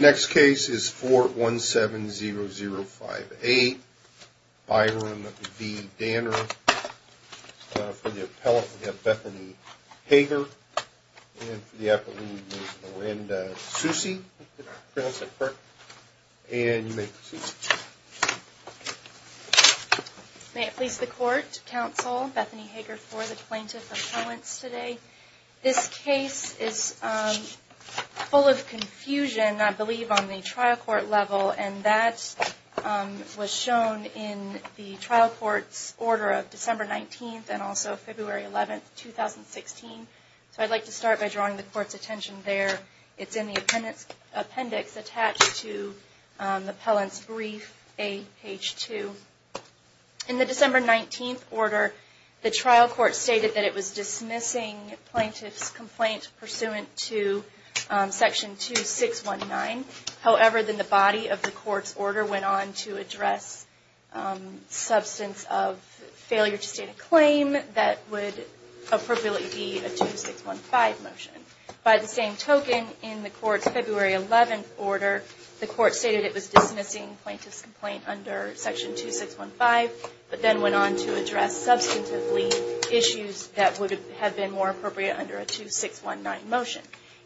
Next case is 417-0058. Byram v. Danner. For the appellant we have Bethany Hager and for the appellant we have Miranda Soucy. And you may proceed. May it please the court, counsel, Bethany Hager for the plaintiff appellants today. This case is full of confusion I believe on the trial court level and that was shown in the trial court's order of December 19th and also February 11th, 2016. So I'd like to start by drawing the court's attention there. It's in the appendix attached to the appellant's brief, page 2. In the December 19th order, the trial court stated that it was dismissing plaintiff's complaint pursuant to section 2619. However, then the body of the court's order went on to address substance of failure to state a claim that would appropriately be a 2615 motion. By the same token, in the court's February 11th order, the court stated it was dismissing plaintiff's complaint under section 2615, but then went on to address substantively issues that would have been more appropriate under a 2619 motion.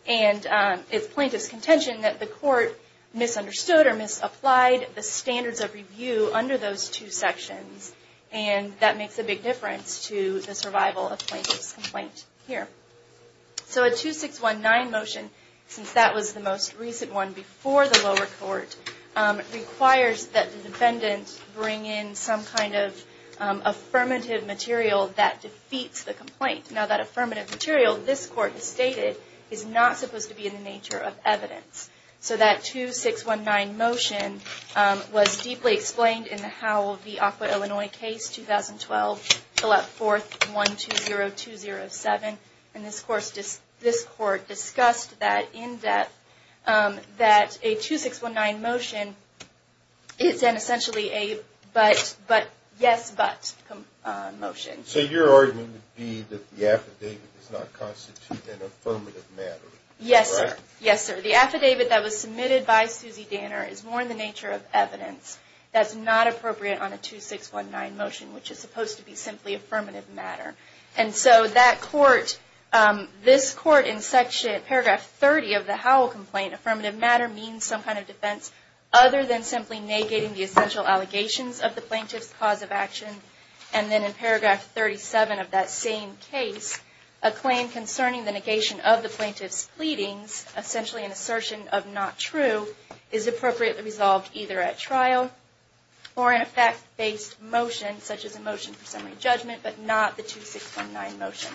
And it's plaintiff's contention that the court misunderstood or misapplied the standards of review under those two sections. And that makes a big difference to the survival of plaintiff's complaint here. So a 2619 motion, since that was the most recent one before the lower court, requires that the defendant bring in some kind of affirmative material that defeats the complaint. Now that affirmative material, this court has stated, is not supposed to be in the nature of evidence. So that 2619 motion was deeply explained in the Howell v. Aqua, Illinois case 2012, fill out 4th 120207. And this court discussed that in depth, that a 2619 motion is then essentially a but, yes, but motion. So your argument would be that the affidavit does not constitute an affirmative matter? Yes, sir. Yes, sir. The affidavit that was submitted by Susie Danner is more in the nature of evidence. That's not appropriate on a 2619 motion, which is supposed to be simply affirmative matter. And so that court, this court in paragraph 30 of the Howell complaint, affirmative matter means some kind of defense other than simply negating the essential allegations of the plaintiff's cause of action. And then in paragraph 37 of that same case, a claim concerning the negation of the plaintiff's pleadings, essentially an assertion of not true, is appropriately resolved either at trial or in a fact-based motion, such as a motion for summary judgment, but not the 2619 motion.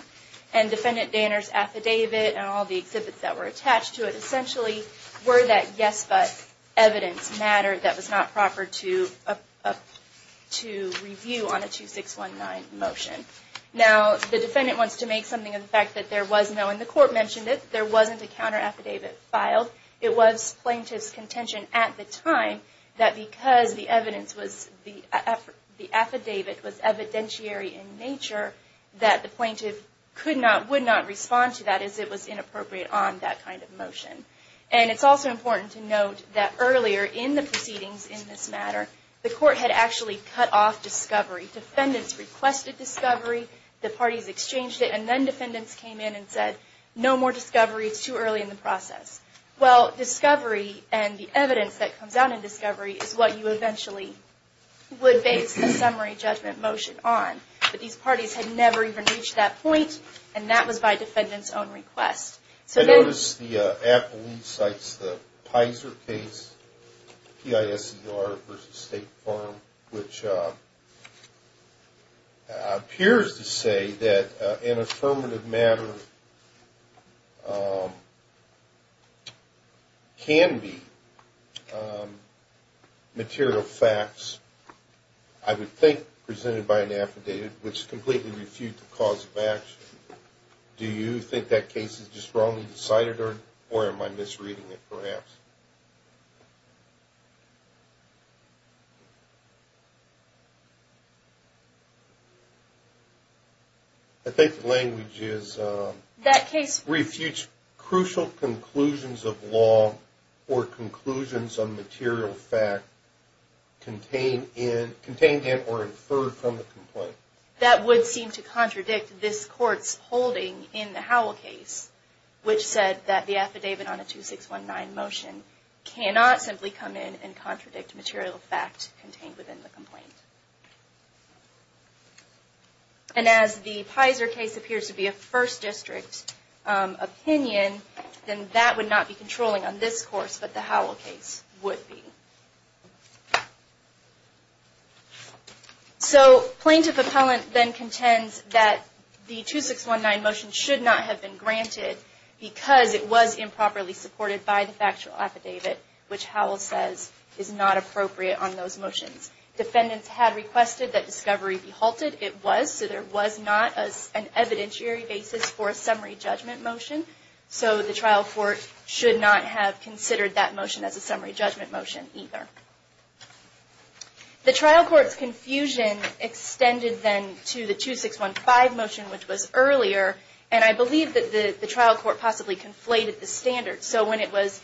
And Defendant Danner's affidavit and all the exhibits that were attached to it essentially were that yes, but evidence matter that was not proper to review on a 2619 motion. Now, the defendant wants to make something of the fact that there was no, and the court mentioned it, there wasn't a counter affidavit filed. It was plaintiff's contention at the time that because the evidence was, the affidavit was evidentiary in nature, that the plaintiff could not, would not respond to that as it was inappropriate on that kind of motion. And it's also important to note that earlier in the proceedings in this matter, the court had actually cut off discovery. Defendants requested discovery, the parties exchanged it, and then defendants came in and said, no more discovery, it's too early in the process. Well, discovery and the evidence that comes out in discovery is what you eventually would base the summary judgment motion on. But these parties had never even reached that point, and that was by defendant's own request. I noticed the affidavit cites the PISER case, P-I-S-E-R versus State Farm, which appears to say that an affirmative matter can be material facts, I would think presented by an affidavit, which completely refutes the cause of action. Do you think that case is just wrongly cited, or am I misreading it perhaps? I think the language is... That case... Refutes crucial conclusions of law or conclusions on material fact contained in or inferred from the complaint. That would seem to contradict this court's holding in the Howell case, which said that the affidavit on a 2619 motion cannot simply come in and contradict material fact contained within the complaint. And as the PISER case appears to be a First District opinion, then that would not be controlling on this course, but the Howell case would be. So, plaintiff appellant then contends that the 2619 motion should not have been granted because it was improperly supported by the factual affidavit, which Howell says is not appropriate on those motions. Defendants had requested that discovery be halted. It was, so there was not an evidentiary basis for a summary judgment motion, so the trial court should not have considered that motion as a summary judgment motion. The trial court's confusion extended then to the 2615 motion, which was earlier, and I believe that the trial court possibly conflated the standards, so when it was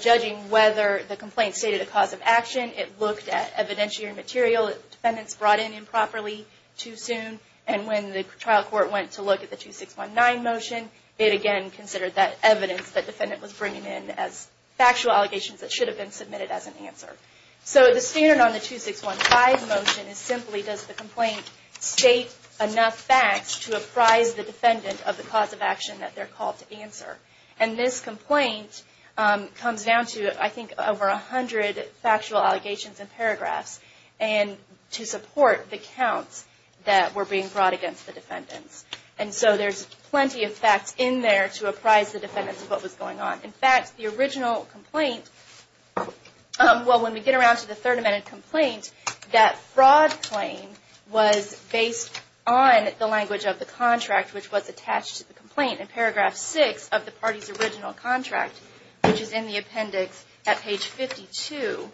judging whether the complaint stated a cause of action, it looked at evidentiary material that defendants brought in improperly too soon, and when the trial court went to look at the 2619 motion, it again considered that evidence that defendant was bringing in as factual allegations that should have been submitted as an answer. So, the standard on the 2615 motion is simply, does the complaint state enough facts to apprise the defendant of the cause of action that they're called to answer? And this complaint comes down to, I think, over 100 factual allegations and paragraphs, and to support the counts that were being brought against the defendants. And so, there's plenty of facts in there to apprise the defendants of what was going on. In fact, the original complaint, well, when we get around to the Third Amendment complaint, that fraud claim was based on the language of the contract which was attached to the complaint. In paragraph 6 of the party's original contract, which is in the appendix at page 52,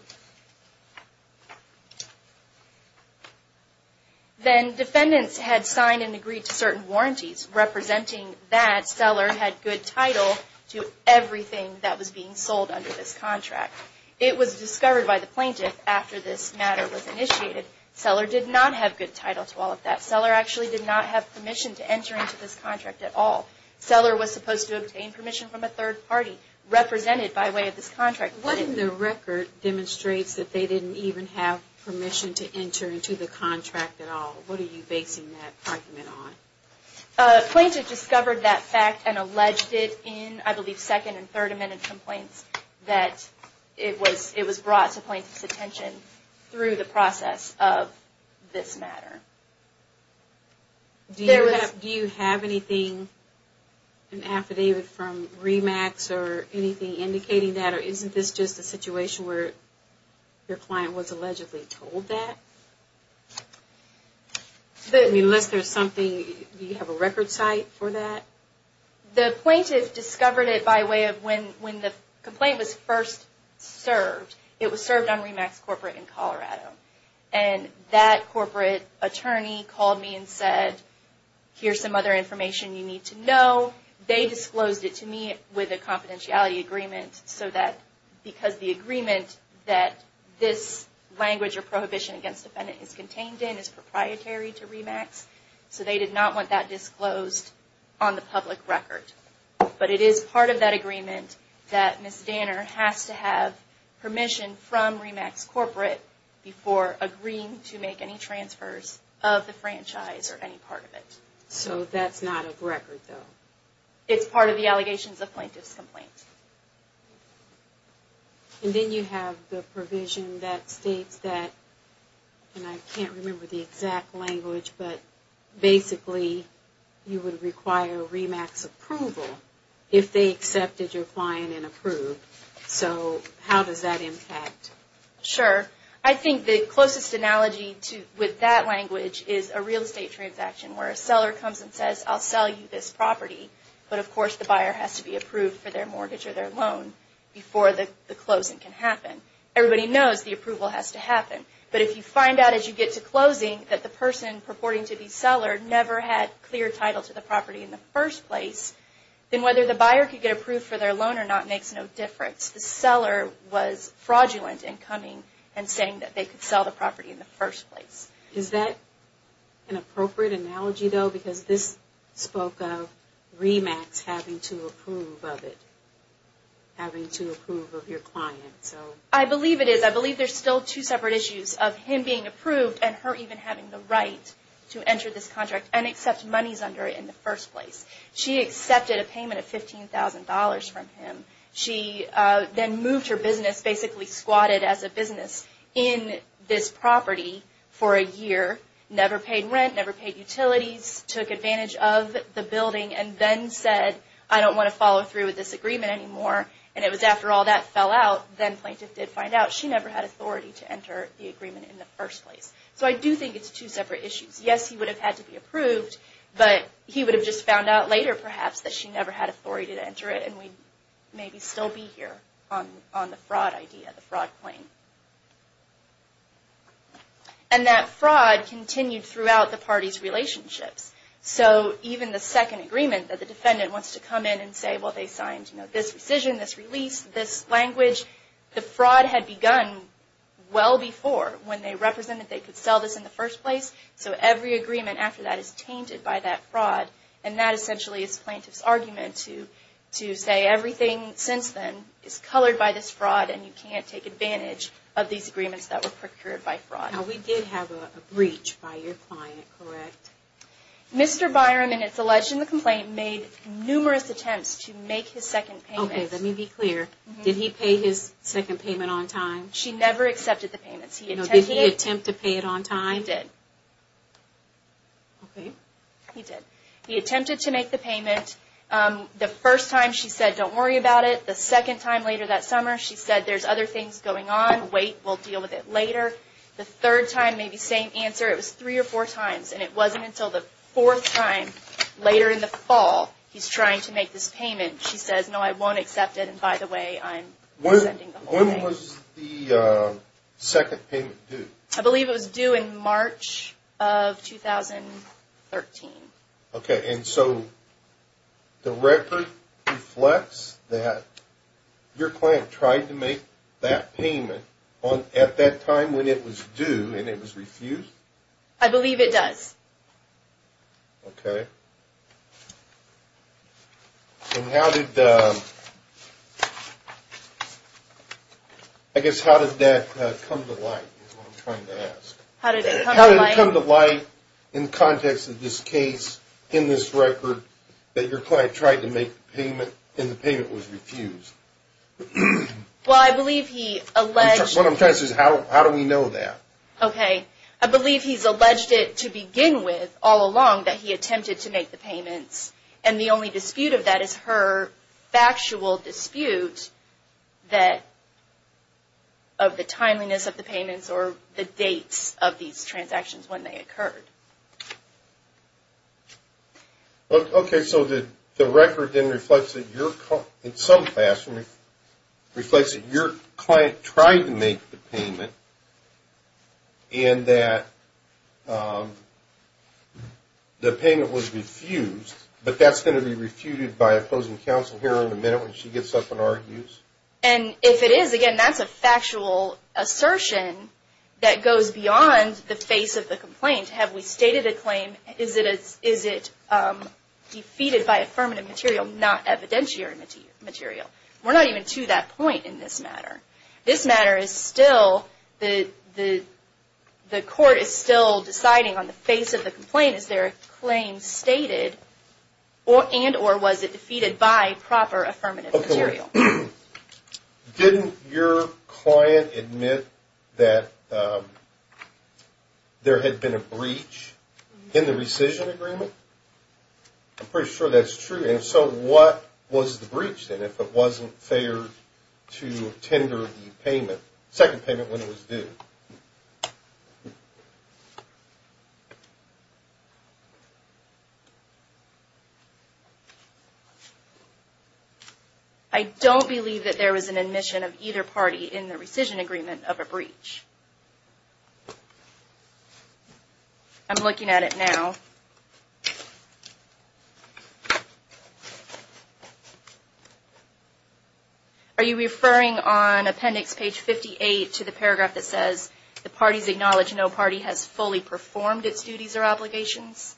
then defendants had signed and agreed to certain warranties, representing that seller had good title to everything that was being sold under this contract. It was discovered by the plaintiff after this matter was initiated, seller did not have good title to all of that. Seller actually did not have permission to enter into this contract at all. Seller was supposed to obtain permission from a third party, represented by way of this contract. What in the record demonstrates that they didn't even have permission to enter into the contract at all? What are you basing that argument on? Plaintiff discovered that fact and alleged it in, I believe, Second and Third Amendment complaints, that it was brought to plaintiff's attention through the process of this matter. Do you have anything, an affidavit from RE-MAX or anything indicating that? Or isn't this just a situation where your client was allegedly told that? Unless there's something, do you have a record site for that? The plaintiff discovered it by way of when the complaint was first served. It was served on RE-MAX corporate in Colorado. And that corporate attorney called me and said, here's some other information you need to know. They disclosed it to me with a confidentiality agreement so that, because the agreement that this language or prohibition against defendant is contained in is proprietary to RE-MAX, so they did not want that disclosed on the public record. But it is part of that agreement that Ms. Danner has to have permission from RE-MAX corporate before agreeing to make any transfers of the franchise or any part of it. So that's not a record though? It's part of the allegations of plaintiff's complaint. And then you have the provision that states that, and I can't remember the exact language, but basically you would require RE-MAX approval if they accepted your client and approved. So how does that impact? Sure. I think the closest analogy with that language is a real estate transaction where a seller comes and says, I'll sell you this property, but of course the buyer has to be approved for their mortgage or their loan before the closing can happen. Everybody knows the approval has to happen. But if you find out as you get to closing that the person purporting to be seller never had clear title to the property in the first place, then whether the buyer could get approved for their loan or not makes no difference. The seller was fraudulent in coming and saying that they could sell the property in the first place. Is that an appropriate analogy though? Because this spoke of RE-MAX having to approve of it, having to approve of your client. I believe it is. I believe there's still two separate issues of him being approved and her even having the right to enter this contract and accept monies under it in the first place. She accepted a payment of $15,000 from him. She then moved her business, basically squatted as a business in this property for a year, never paid rent, never paid utilities, took advantage of the building, and then said, I don't want to follow through with this agreement anymore. And it was after all that fell out, then plaintiff did find out she never had authority to enter the agreement in the first place. So I do think it's two separate issues. Yes, he would have had to be approved, but he would have just found out later perhaps that she never had authority to enter it and we'd maybe still be here on the fraud idea, the fraud claim. And that fraud continued throughout the parties' relationships. So even the second agreement that the defendant wants to come in and say, well they signed this decision, this release, this language, the fraud had begun well before when they represented they could sell this in the first place. And that essentially is plaintiff's argument to say everything since then is colored by this fraud and you can't take advantage of these agreements that were procured by fraud. Now we did have a breach by your client, correct? Mr. Byron, and it's alleged in the complaint, made numerous attempts to make his second payment. Okay, let me be clear. Did he pay his second payment on time? She never accepted the payments. Did he attempt to pay it on time? He did. Okay. He did. He attempted to make the payment. The first time she said, don't worry about it. The second time later that summer she said, there's other things going on, wait, we'll deal with it later. The third time, maybe same answer, it was three or four times, and it wasn't until the fourth time later in the fall he's trying to make this payment. She says, no, I won't accept it, and by the way, I'm rescinding the whole thing. When was the second payment due? I believe it was due in March of 2013. Okay, and so the record reflects that your client tried to make that payment at that time when it was due and it was refused? I believe it does. Okay. And how did, I guess how did that come to light is what I'm trying to ask. How did it come to light? How did it come to light in the context of this case, in this record, that your client tried to make the payment and the payment was refused? Well, I believe he alleged. What I'm trying to say is how do we know that? Okay. I believe he's alleged it to begin with all along that he attempted to make the payments, and the only dispute of that is her factual dispute of the timeliness of the payments or the dates of these transactions when they occurred. Okay, so the record then reflects that your, in some fashion, reflects that your client tried to make the payment and that the payment was refused, but that's going to be refuted by opposing counsel here in a minute when she gets up and argues? And if it is, again, that's a factual assertion that goes beyond the face of the complaint. Have we stated a claim? Is it defeated by affirmative material, not evidentiary material? We're not even to that point in this matter. This matter is still, the court is still deciding on the face of the complaint. Is there a claim stated and or was it defeated by proper affirmative material? Didn't your client admit that there had been a breach in the rescission agreement? I'm pretty sure that's true. And so what was the breach then if it wasn't fair to tender the payment, second payment when it was due? I don't believe that there was an admission of either party in the rescission agreement of a breach. I'm looking at it now. Are you referring on appendix page 58 to the paragraph that says, the parties acknowledge no party has fully performed its duties or obligations?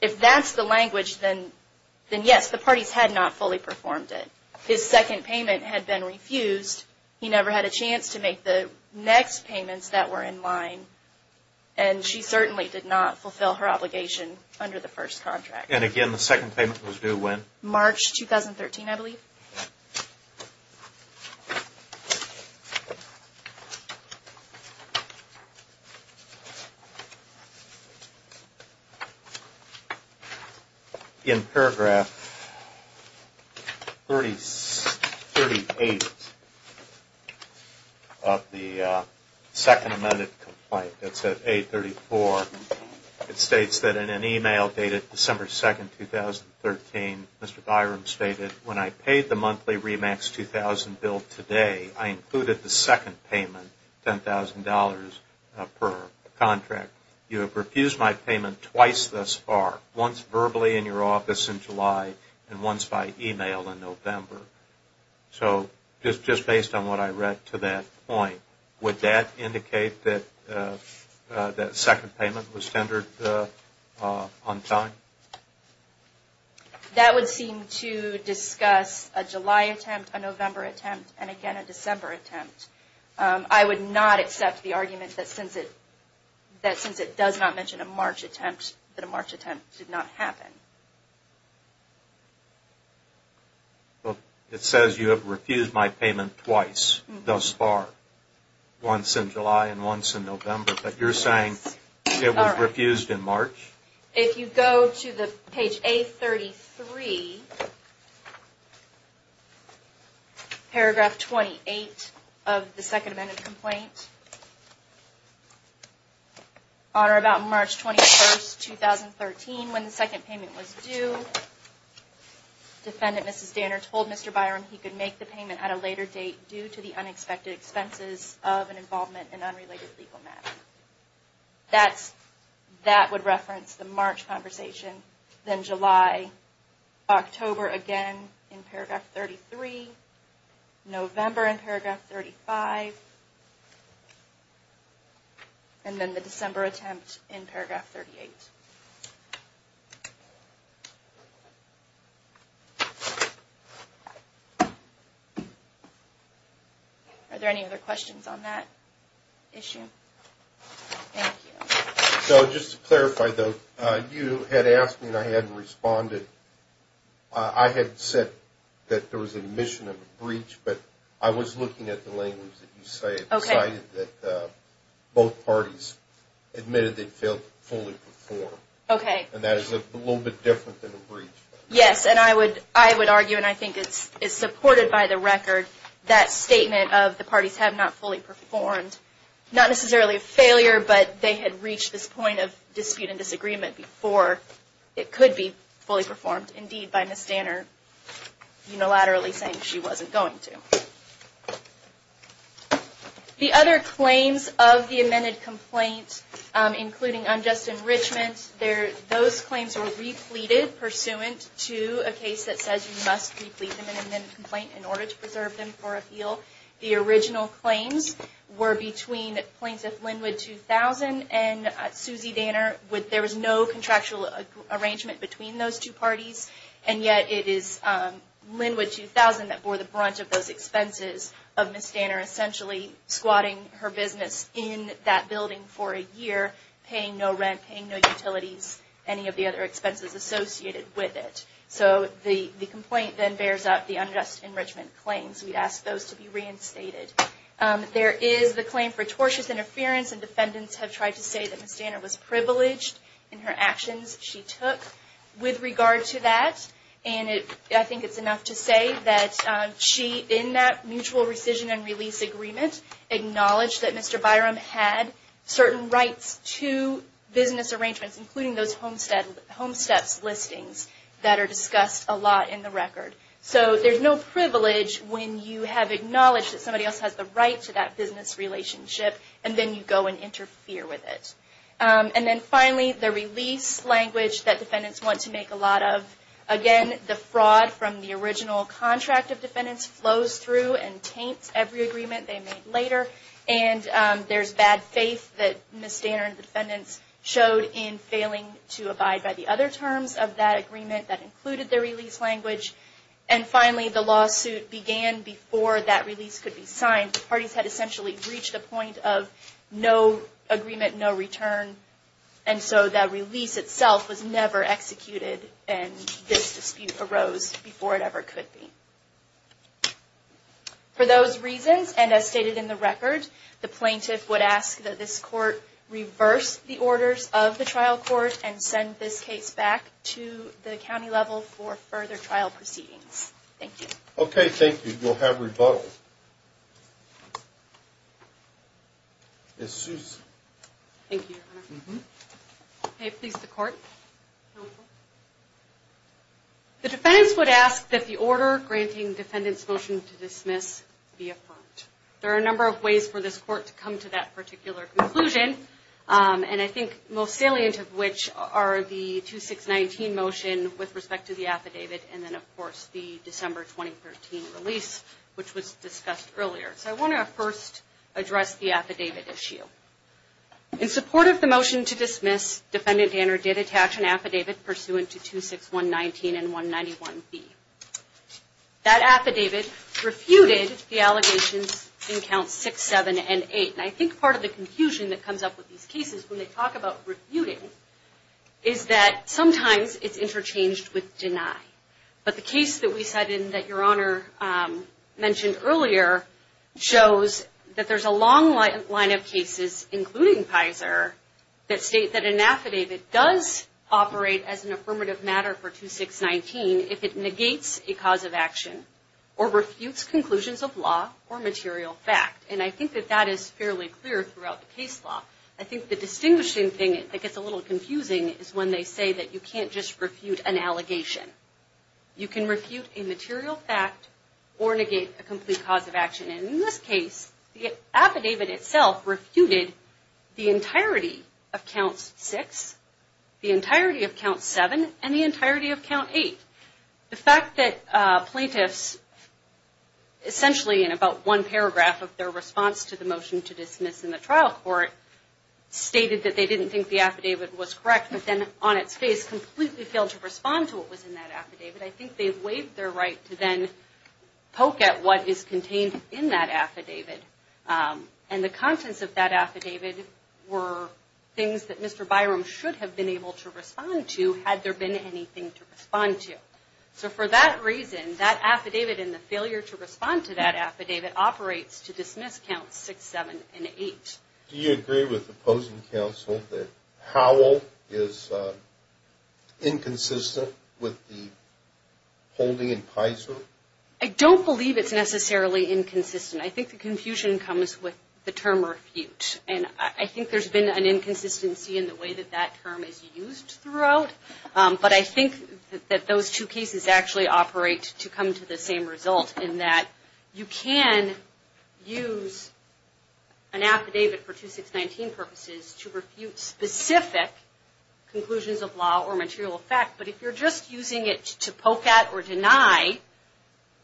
If that's the language, then yes, the parties had not fully performed it. His second payment had been refused. He never had a chance to make the next payments that were in line. And she certainly did not fulfill her obligation under the first contract. And again, the second payment was due when? March 2013, I believe. Okay. In paragraph 38 of the second amended complaint, it's at 834. It states that in an email dated December 2nd, 2013, Mr. Byrum stated, when I paid the monthly REMAX 2000 bill today, I included the second payment, $10,000 per contract. You have refused my payment twice thus far, once verbally in your office in July and once by email in November. So just based on what I read to that point, would that indicate that that second payment was tendered on time? That would seem to discuss a July attempt, a November attempt, and again, a December attempt. I would not accept the argument that since it does not mention a March attempt, that a March attempt did not happen. It says you have refused my payment twice thus far, once in July and once in November. But you're saying it was refused in March? If you go to the page A33, paragraph 28 of the second amended complaint, on or about March 21st, 2013, when the second payment was due, defendant Mrs. Danner told Mr. Byrum he could make the payment at a later date due to the unexpected expenses of an involvement in unrelated legal matters. That would reference the March conversation, then July, October again in paragraph 33, November in paragraph 35, and then the December attempt in paragraph 38. Are there any other questions on that issue? Thank you. So just to clarify, though, you had asked me and I hadn't responded. I had said that there was a mission of a breach, but I was looking at the language that you say. I decided that both parties admitted they failed to fully perform. Okay. And that is a little bit different than a breach. Yes, and I would argue, and I think it's supported by the record, that statement of the parties have not fully performed, not necessarily a failure, but they had reached this point of dispute and disagreement before it could be fully performed, indeed by Mrs. Danner unilaterally saying she wasn't going to. The other claims of the amended complaint, including unjust enrichment, those claims were repleted pursuant to a case that says you must replete an amended complaint in order to preserve them for appeal. The original claims were between Plaintiff Linwood 2000 and Susie Danner. There was no contractual arrangement between those two parties, and yet it is Linwood 2000 that bore the brunt of those expenses of Ms. Danner essentially squatting her business in that building for a year, paying no rent, paying no utilities, any of the other expenses associated with it. So the complaint then bears out the unjust enrichment claims. We'd ask those to be reinstated. There is the claim for tortious interference, and defendants have tried to say that Ms. Danner was privileged in her actions she took. With regard to that, and I think it's enough to say that she, in that mutual rescission and release agreement, acknowledged that Mr. Byram had certain rights to business arrangements, including those Homesteps listings that are discussed a lot in the record. So there's no privilege when you have acknowledged that somebody else has the right to that business relationship, and then you go and interfere with it. And then finally, the release language that defendants want to make a lot of. Again, the fraud from the original contract of defendants flows through and taints every agreement they make later, and there's bad faith that Ms. Danner and the defendants showed in failing to abide by the other terms of that agreement that included the release language. And finally, the lawsuit began before that release could be signed. The parties had essentially reached the point of no agreement, no return, and so that release itself was never executed, and this dispute arose before it ever could be. For those reasons, and as stated in the record, the plaintiff would ask that this court reverse the orders of the trial court and send this case back to the county level for further trial proceedings. Thank you. Okay, thank you. We'll have rebuttal. Ms. Seuss. Thank you, Your Honor. Okay, please, the court. The defendants would ask that the order granting defendants' motion to dismiss be affirmed. There are a number of ways for this court to come to that particular conclusion, and I think most salient of which are the 2619 motion with respect to the affidavit, and then, of course, the December 2013 release, which was discussed earlier. So I want to first address the affidavit issue. In support of the motion to dismiss, defendant Danner did attach an affidavit pursuant to 26119 and 191B. That affidavit refuted the allegations in Counts 6, 7, and 8, and I think part of the confusion that comes up with these cases when they talk about refuting is that sometimes it's interchanged with deny. But the case that we cited and that Your Honor mentioned earlier shows that there's a long line of cases, including Pizer, that state that an affidavit does operate as an affirmative matter for 2619 if it negates a cause of action or refutes conclusions of law or material fact, and I think that that is fairly clear throughout the case law. I think the distinguishing thing that gets a little confusing is when they say that you can't just refute an allegation. You can refute a material fact or negate a complete cause of action, and in this case, the affidavit itself refuted the entirety of Counts 6, the entirety of Counts 7, and the entirety of Count 8. The fact that plaintiffs essentially in about one paragraph of their response to the motion to dismiss in the trial court stated that they didn't think the affidavit was correct, but then on its face completely failed to respond to what was in that affidavit. I think they've waived their right to then poke at what is contained in that affidavit, and the contents of that affidavit were things that Mr. Byram should have been able to respond to had there been anything to respond to. So for that reason, that affidavit and the failure to respond to that affidavit operates to dismiss Counts 6, 7, and 8. Do you agree with opposing counsel that Howell is inconsistent with the holding in Pizer? I don't believe it's necessarily inconsistent. I think the confusion comes with the term refute, and I think there's been an inconsistency in the way that that term is used throughout. But I think that those two cases actually operate to come to the same result, in that you can use an affidavit for 2619 purposes to refute specific conclusions of law or material fact, but if you're just using it to poke at or deny,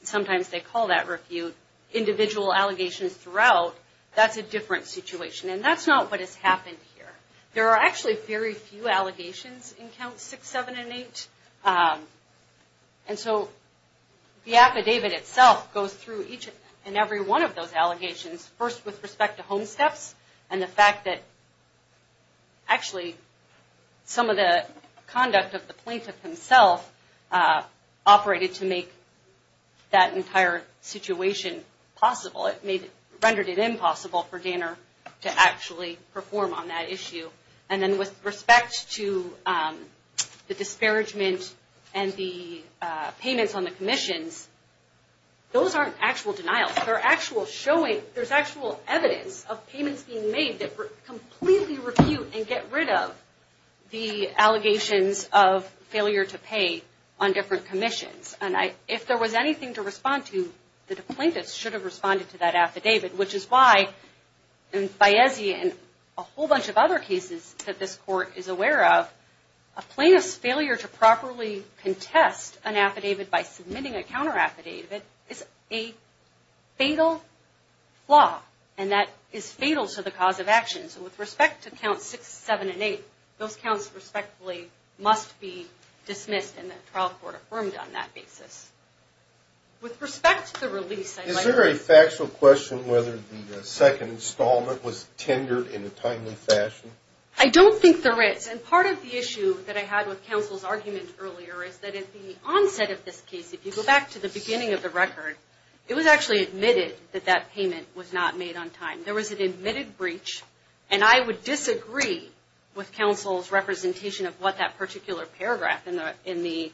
sometimes they call that refute, individual allegations throughout, that's a different situation, and that's not what has happened here. There are actually very few allegations in Counts 6, 7, and 8, and so the affidavit itself goes through each and every one of those allegations, first with respect to homesteps and the fact that actually some of the conduct of the plaintiff himself operated to make that entire situation possible. It rendered it impossible for Danner to actually perform on that issue. And then with respect to the disparagement and the payments on the commissions, those aren't actual denials. They're actual showing, there's actual evidence of payments being made that completely refute and get rid of the allegations of failure to pay on different commissions. And if there was anything to respond to, the plaintiff should have responded to that affidavit, which is why in Baezia and a whole bunch of other cases that this Court is aware of, a plaintiff's failure to properly contest an affidavit by submitting a counter affidavit is a fatal flaw, and that is fatal to the cause of action. So with respect to counts 6, 7, and 8, those counts respectfully must be dismissed and the trial court affirmed on that basis. With respect to the release, I'd like to... Is there a factual question whether the second installment was tendered in a timely fashion? I don't think there is. And part of the issue that I had with counsel's argument earlier is that at the onset of this case, if you go back to the beginning of the record, it was actually admitted that that payment was not made on time. There was an admitted breach, and I would disagree with counsel's representation of what that particular paragraph in the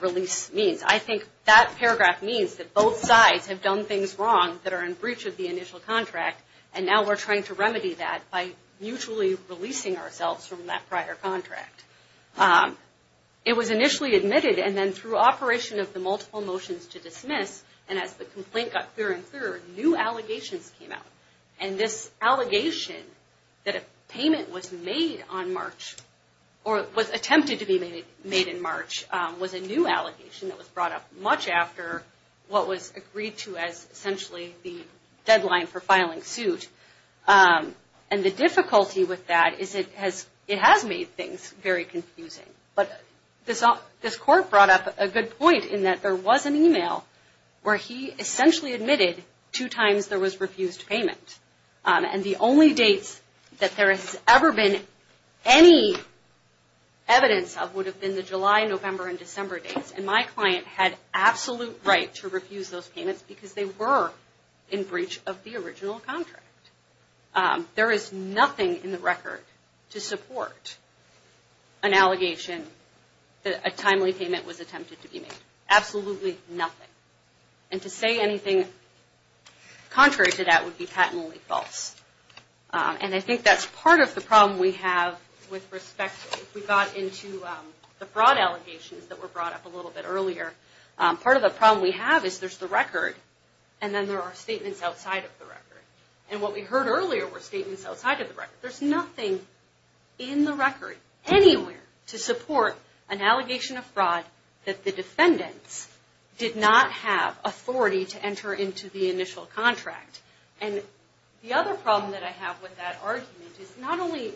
release means. I think that paragraph means that both sides have done things wrong that are in breach of the initial contract, and now we're trying to remedy that by mutually releasing ourselves from that prior contract. It was initially admitted, and then through operation of the multiple motions to dismiss, and as the complaint got clearer and clearer, new allegations came out. And this allegation that a payment was made on March, or was attempted to be made in March, was a new allegation that was brought up much after what was agreed to as essentially the deadline for filing suit. And the difficulty with that is it has made things very confusing. But this court brought up a good point in that there was an email where he essentially admitted two times there was refused payment. And the only dates that there has ever been any evidence of would have been the July, November, and December dates. And my client had absolute right to refuse those payments because they were in breach of the original contract. There is nothing in the record to support an allegation that a timely payment was attempted to be made. Absolutely nothing. And to say anything contrary to that would be patently false. And I think that's part of the problem we have with respect to if we got into the fraud allegations that were brought up a little bit earlier. Part of the problem we have is there's the record, and then there are statements outside of the record. And what we heard earlier were statements outside of the record. There's nothing in the record anywhere to support an allegation of fraud that the defendants did not have authority to enter into the initial contract. And the other problem that I have with that argument is not only,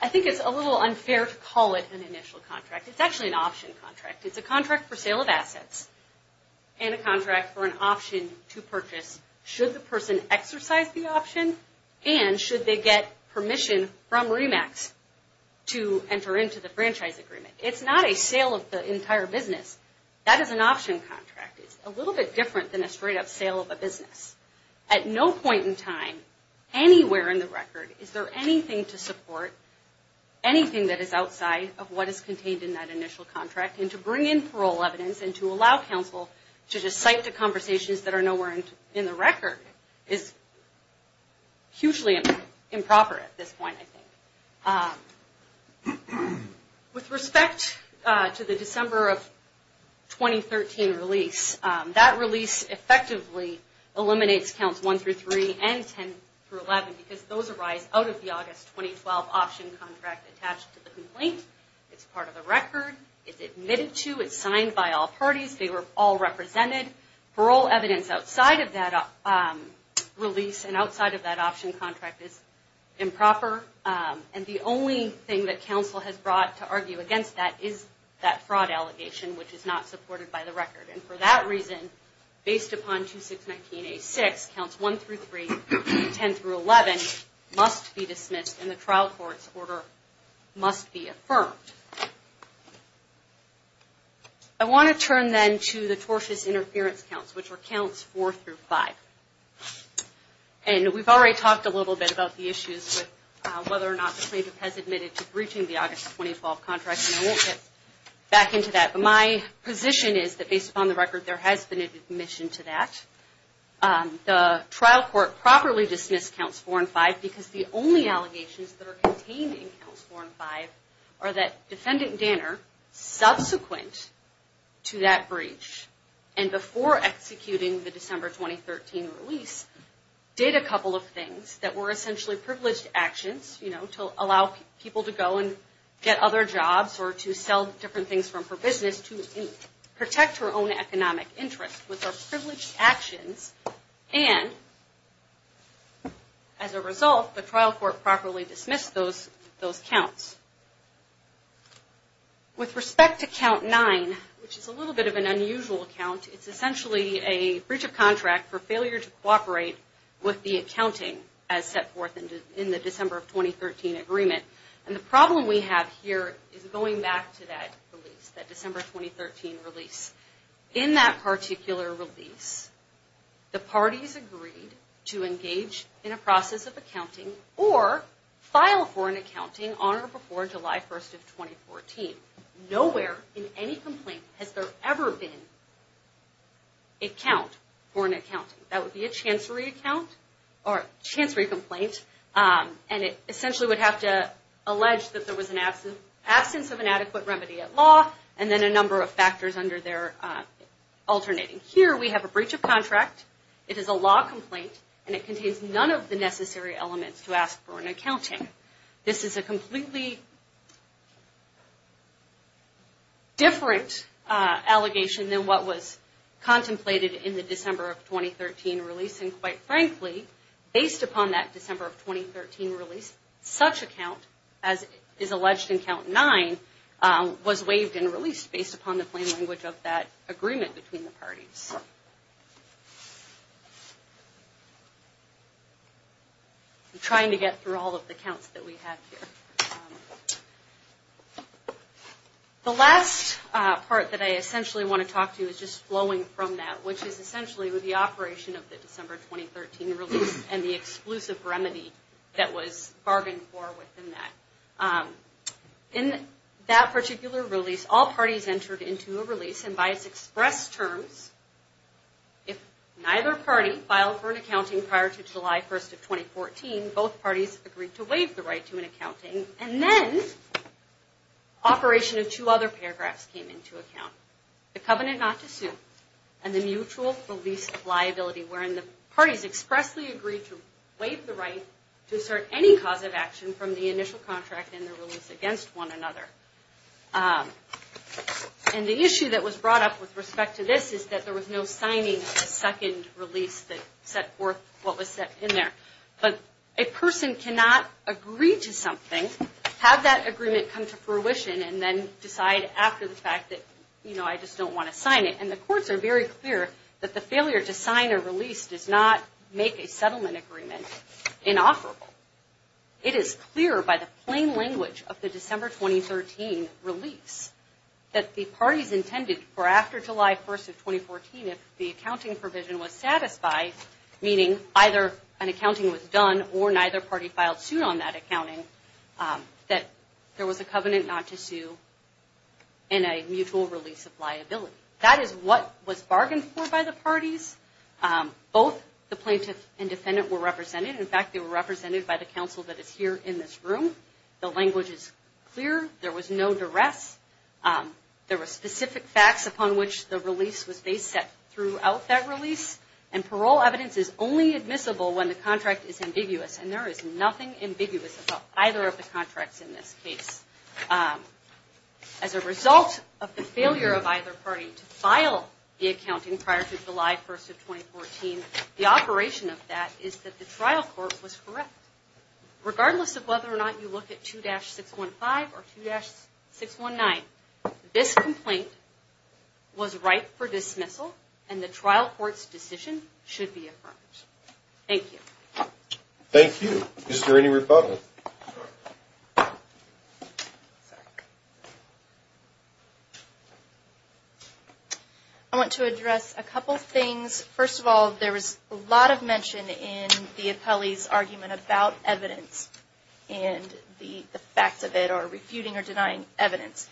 I think it's a little unfair to call it an initial contract. It's actually an option contract. It's a contract for sale of assets and a contract for an option to purchase should the person exercise the option and should they get permission from REMAX to enter into the franchise agreement. It's not a sale of the entire business. That is an option contract. It's a little bit different than a straight-up sale of a business. At no point in time anywhere in the record is there anything to support anything that is outside of what is contained in that initial contract. And to bring in parole evidence and to allow counsel to just cite the conversations that are nowhere in the record is hugely improper at this point, I think. With respect to the December of 2013 release, that release effectively eliminates counts 1 through 3 and 10 through 11 because those arise out of the August 2012 option contract attached to the complaint. It's part of the record. It's admitted to. It's signed by all parties. They were all represented. Parole evidence outside of that release and outside of that option contract is improper. And the only thing that counsel has brought to argue against that is that fraud allegation, which is not supported by the record. And for that reason, based upon 2619A6, counts 1 through 3, 10 through 11 must be dismissed and the trial court's order must be affirmed. I want to turn then to the tortious interference counts, which are counts 4 through 5. And we've already talked a little bit about the issues with whether or not the plaintiff has admitted to breaching the August 2012 contract, and I won't get back into that. But my position is that based upon the record, there has been an admission to that. The trial court properly dismissed counts 4 and 5 because the only allegations that are contained in counts 4 and 5 are that Defendant Danner, subsequent to that breach and before executing the December 2013 release, did a couple of things that were essentially privileged actions, you know, to allow people to go and get other jobs or to sell different things for business to protect her own economic interest with her privileged actions. And as a result, the trial court properly dismissed those counts. With respect to count 9, which is a little bit of an unusual count, it's essentially a breach of contract for failure to cooperate with the accounting as set forth in the December of 2013 agreement. And the problem we have here is going back to that release, that December 2013 release. In that particular release, the parties agreed to engage in a process of accounting or file for an accounting on or before July 1st of 2014. Nowhere in any complaint has there ever been a count for an accounting. That would be a chancery account or a chancery complaint, and it essentially would have to allege that there was an absence of an adequate remedy at law and then a number of factors under there alternating. Here we have a breach of contract. It is a law complaint, and it contains none of the necessary elements to ask for an accounting. This is a completely different allegation than what was contemplated in the December of 2013 release. And quite frankly, based upon that December of 2013 release, such a count as is alleged in count 9 was waived and released based upon the plain language of that agreement between the parties. I'm trying to get through all of the counts that we have here. The last part that I essentially want to talk to is just flowing from that, which is essentially with the operation of the December 2013 release and the exclusive remedy that was bargained for within that. In that particular release, all parties entered into a release, and by its express terms, if neither party filed for an accounting prior to July 1st of 2014, both parties agreed to waive the right to an accounting. And then operation of two other paragraphs came into account, the covenant not to sue and the mutual release of liability, wherein the parties expressly agreed to waive the right to assert any cause of action from the initial contract and the release against one another. And the issue that was brought up with respect to this is that there was no signing of the second release that set forth what was set in there. But a person cannot agree to something, have that agreement come to fruition, and then decide after the fact that, you know, I just don't want to sign it. And the courts are very clear that the failure to sign a release does not make a settlement agreement inofferable. It is clear by the plain language of the December 2013 release that the parties intended for after July 1st of 2014, if the accounting provision was satisfied, meaning either an accounting was done or neither party filed soon on that accounting, that there was a covenant not to sue and a mutual release of liability. That is what was bargained for by the parties. Both the plaintiff and defendant were represented. In fact, they were represented by the counsel that is here in this room. The language is clear. There was no duress. There were specific facts upon which the release was based throughout that release. And parole evidence is only admissible when the contract is ambiguous. And there is nothing ambiguous about either of the contracts in this case. As a result of the failure of either party to file the accounting prior to July 1st of 2014, the operation of that is that the trial court was correct. Regardless of whether or not you look at 2-615 or 2-619, this complaint was ripe for dismissal and the trial court's decision should be affirmed. Thank you. Thank you. Is there any rebuttal? I want to address a couple things. First of all, there was a lot of mention in the appellee's argument about evidence and the facts of it or refuting or denying evidence.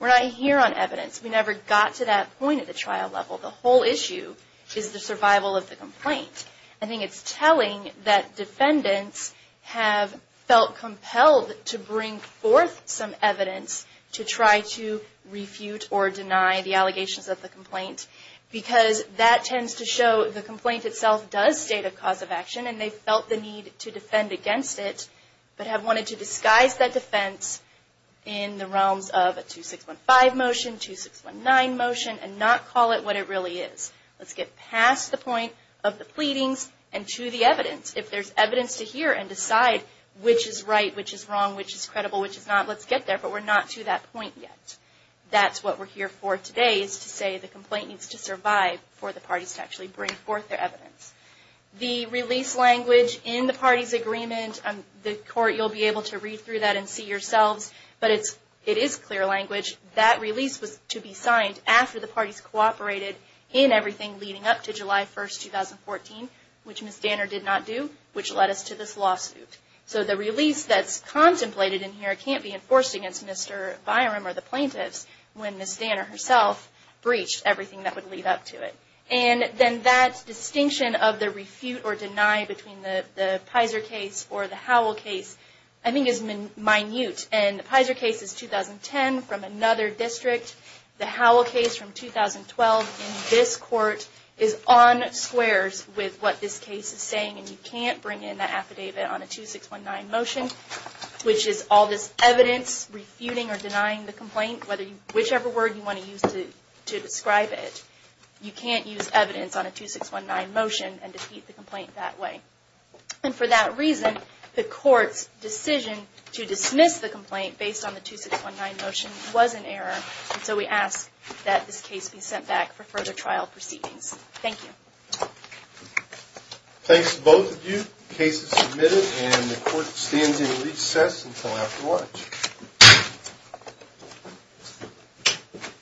We're not here on evidence. We never got to that point at the trial level. The whole issue is the survival of the complaint. I think it's telling that defendants have felt compelled to bring forth some evidence to try to refute or deny the allegations of the complaint because that tends to show the complaint itself does state a cause of action and they felt the need to defend against it, but have wanted to disguise that defense in the realms of a 2-615 motion, 2-619 motion and not call it what it really is. Let's get past the point of the pleadings and to the evidence. If there's evidence to hear and decide which is right, which is wrong, which is credible, which is not, let's get there. But we're not to that point yet. That's what we're here for today is to say the complaint needs to survive for the parties to actually bring forth their evidence. The release language in the parties' agreement, the court, you'll be able to read through that and see yourselves, but it is clear language. That release was to be signed after the parties cooperated in everything leading up to July 1, 2014, which Ms. Danner did not do, which led us to this lawsuit. So the release that's contemplated in here can't be enforced against Mr. Byram or the plaintiffs when Ms. Danner herself breached everything that would lead up to it. And then that distinction of the refute or deny between the Pizer case or the Howell case I think is minute. And the Pizer case is 2010 from another district. The Howell case from 2012 in this court is on squares with what this case is saying and you can't bring in that affidavit on a 2619 motion, which is all this evidence refuting or denying the complaint, whichever word you want to use to describe it. You can't use evidence on a 2619 motion and defeat the complaint that way. And for that reason, the court's decision to dismiss the complaint based on the 2619 motion was an error, and so we ask that this case be sent back for further trial proceedings. Thank you. Thanks to both of you. The case is submitted and the court stands in recess until after lunch.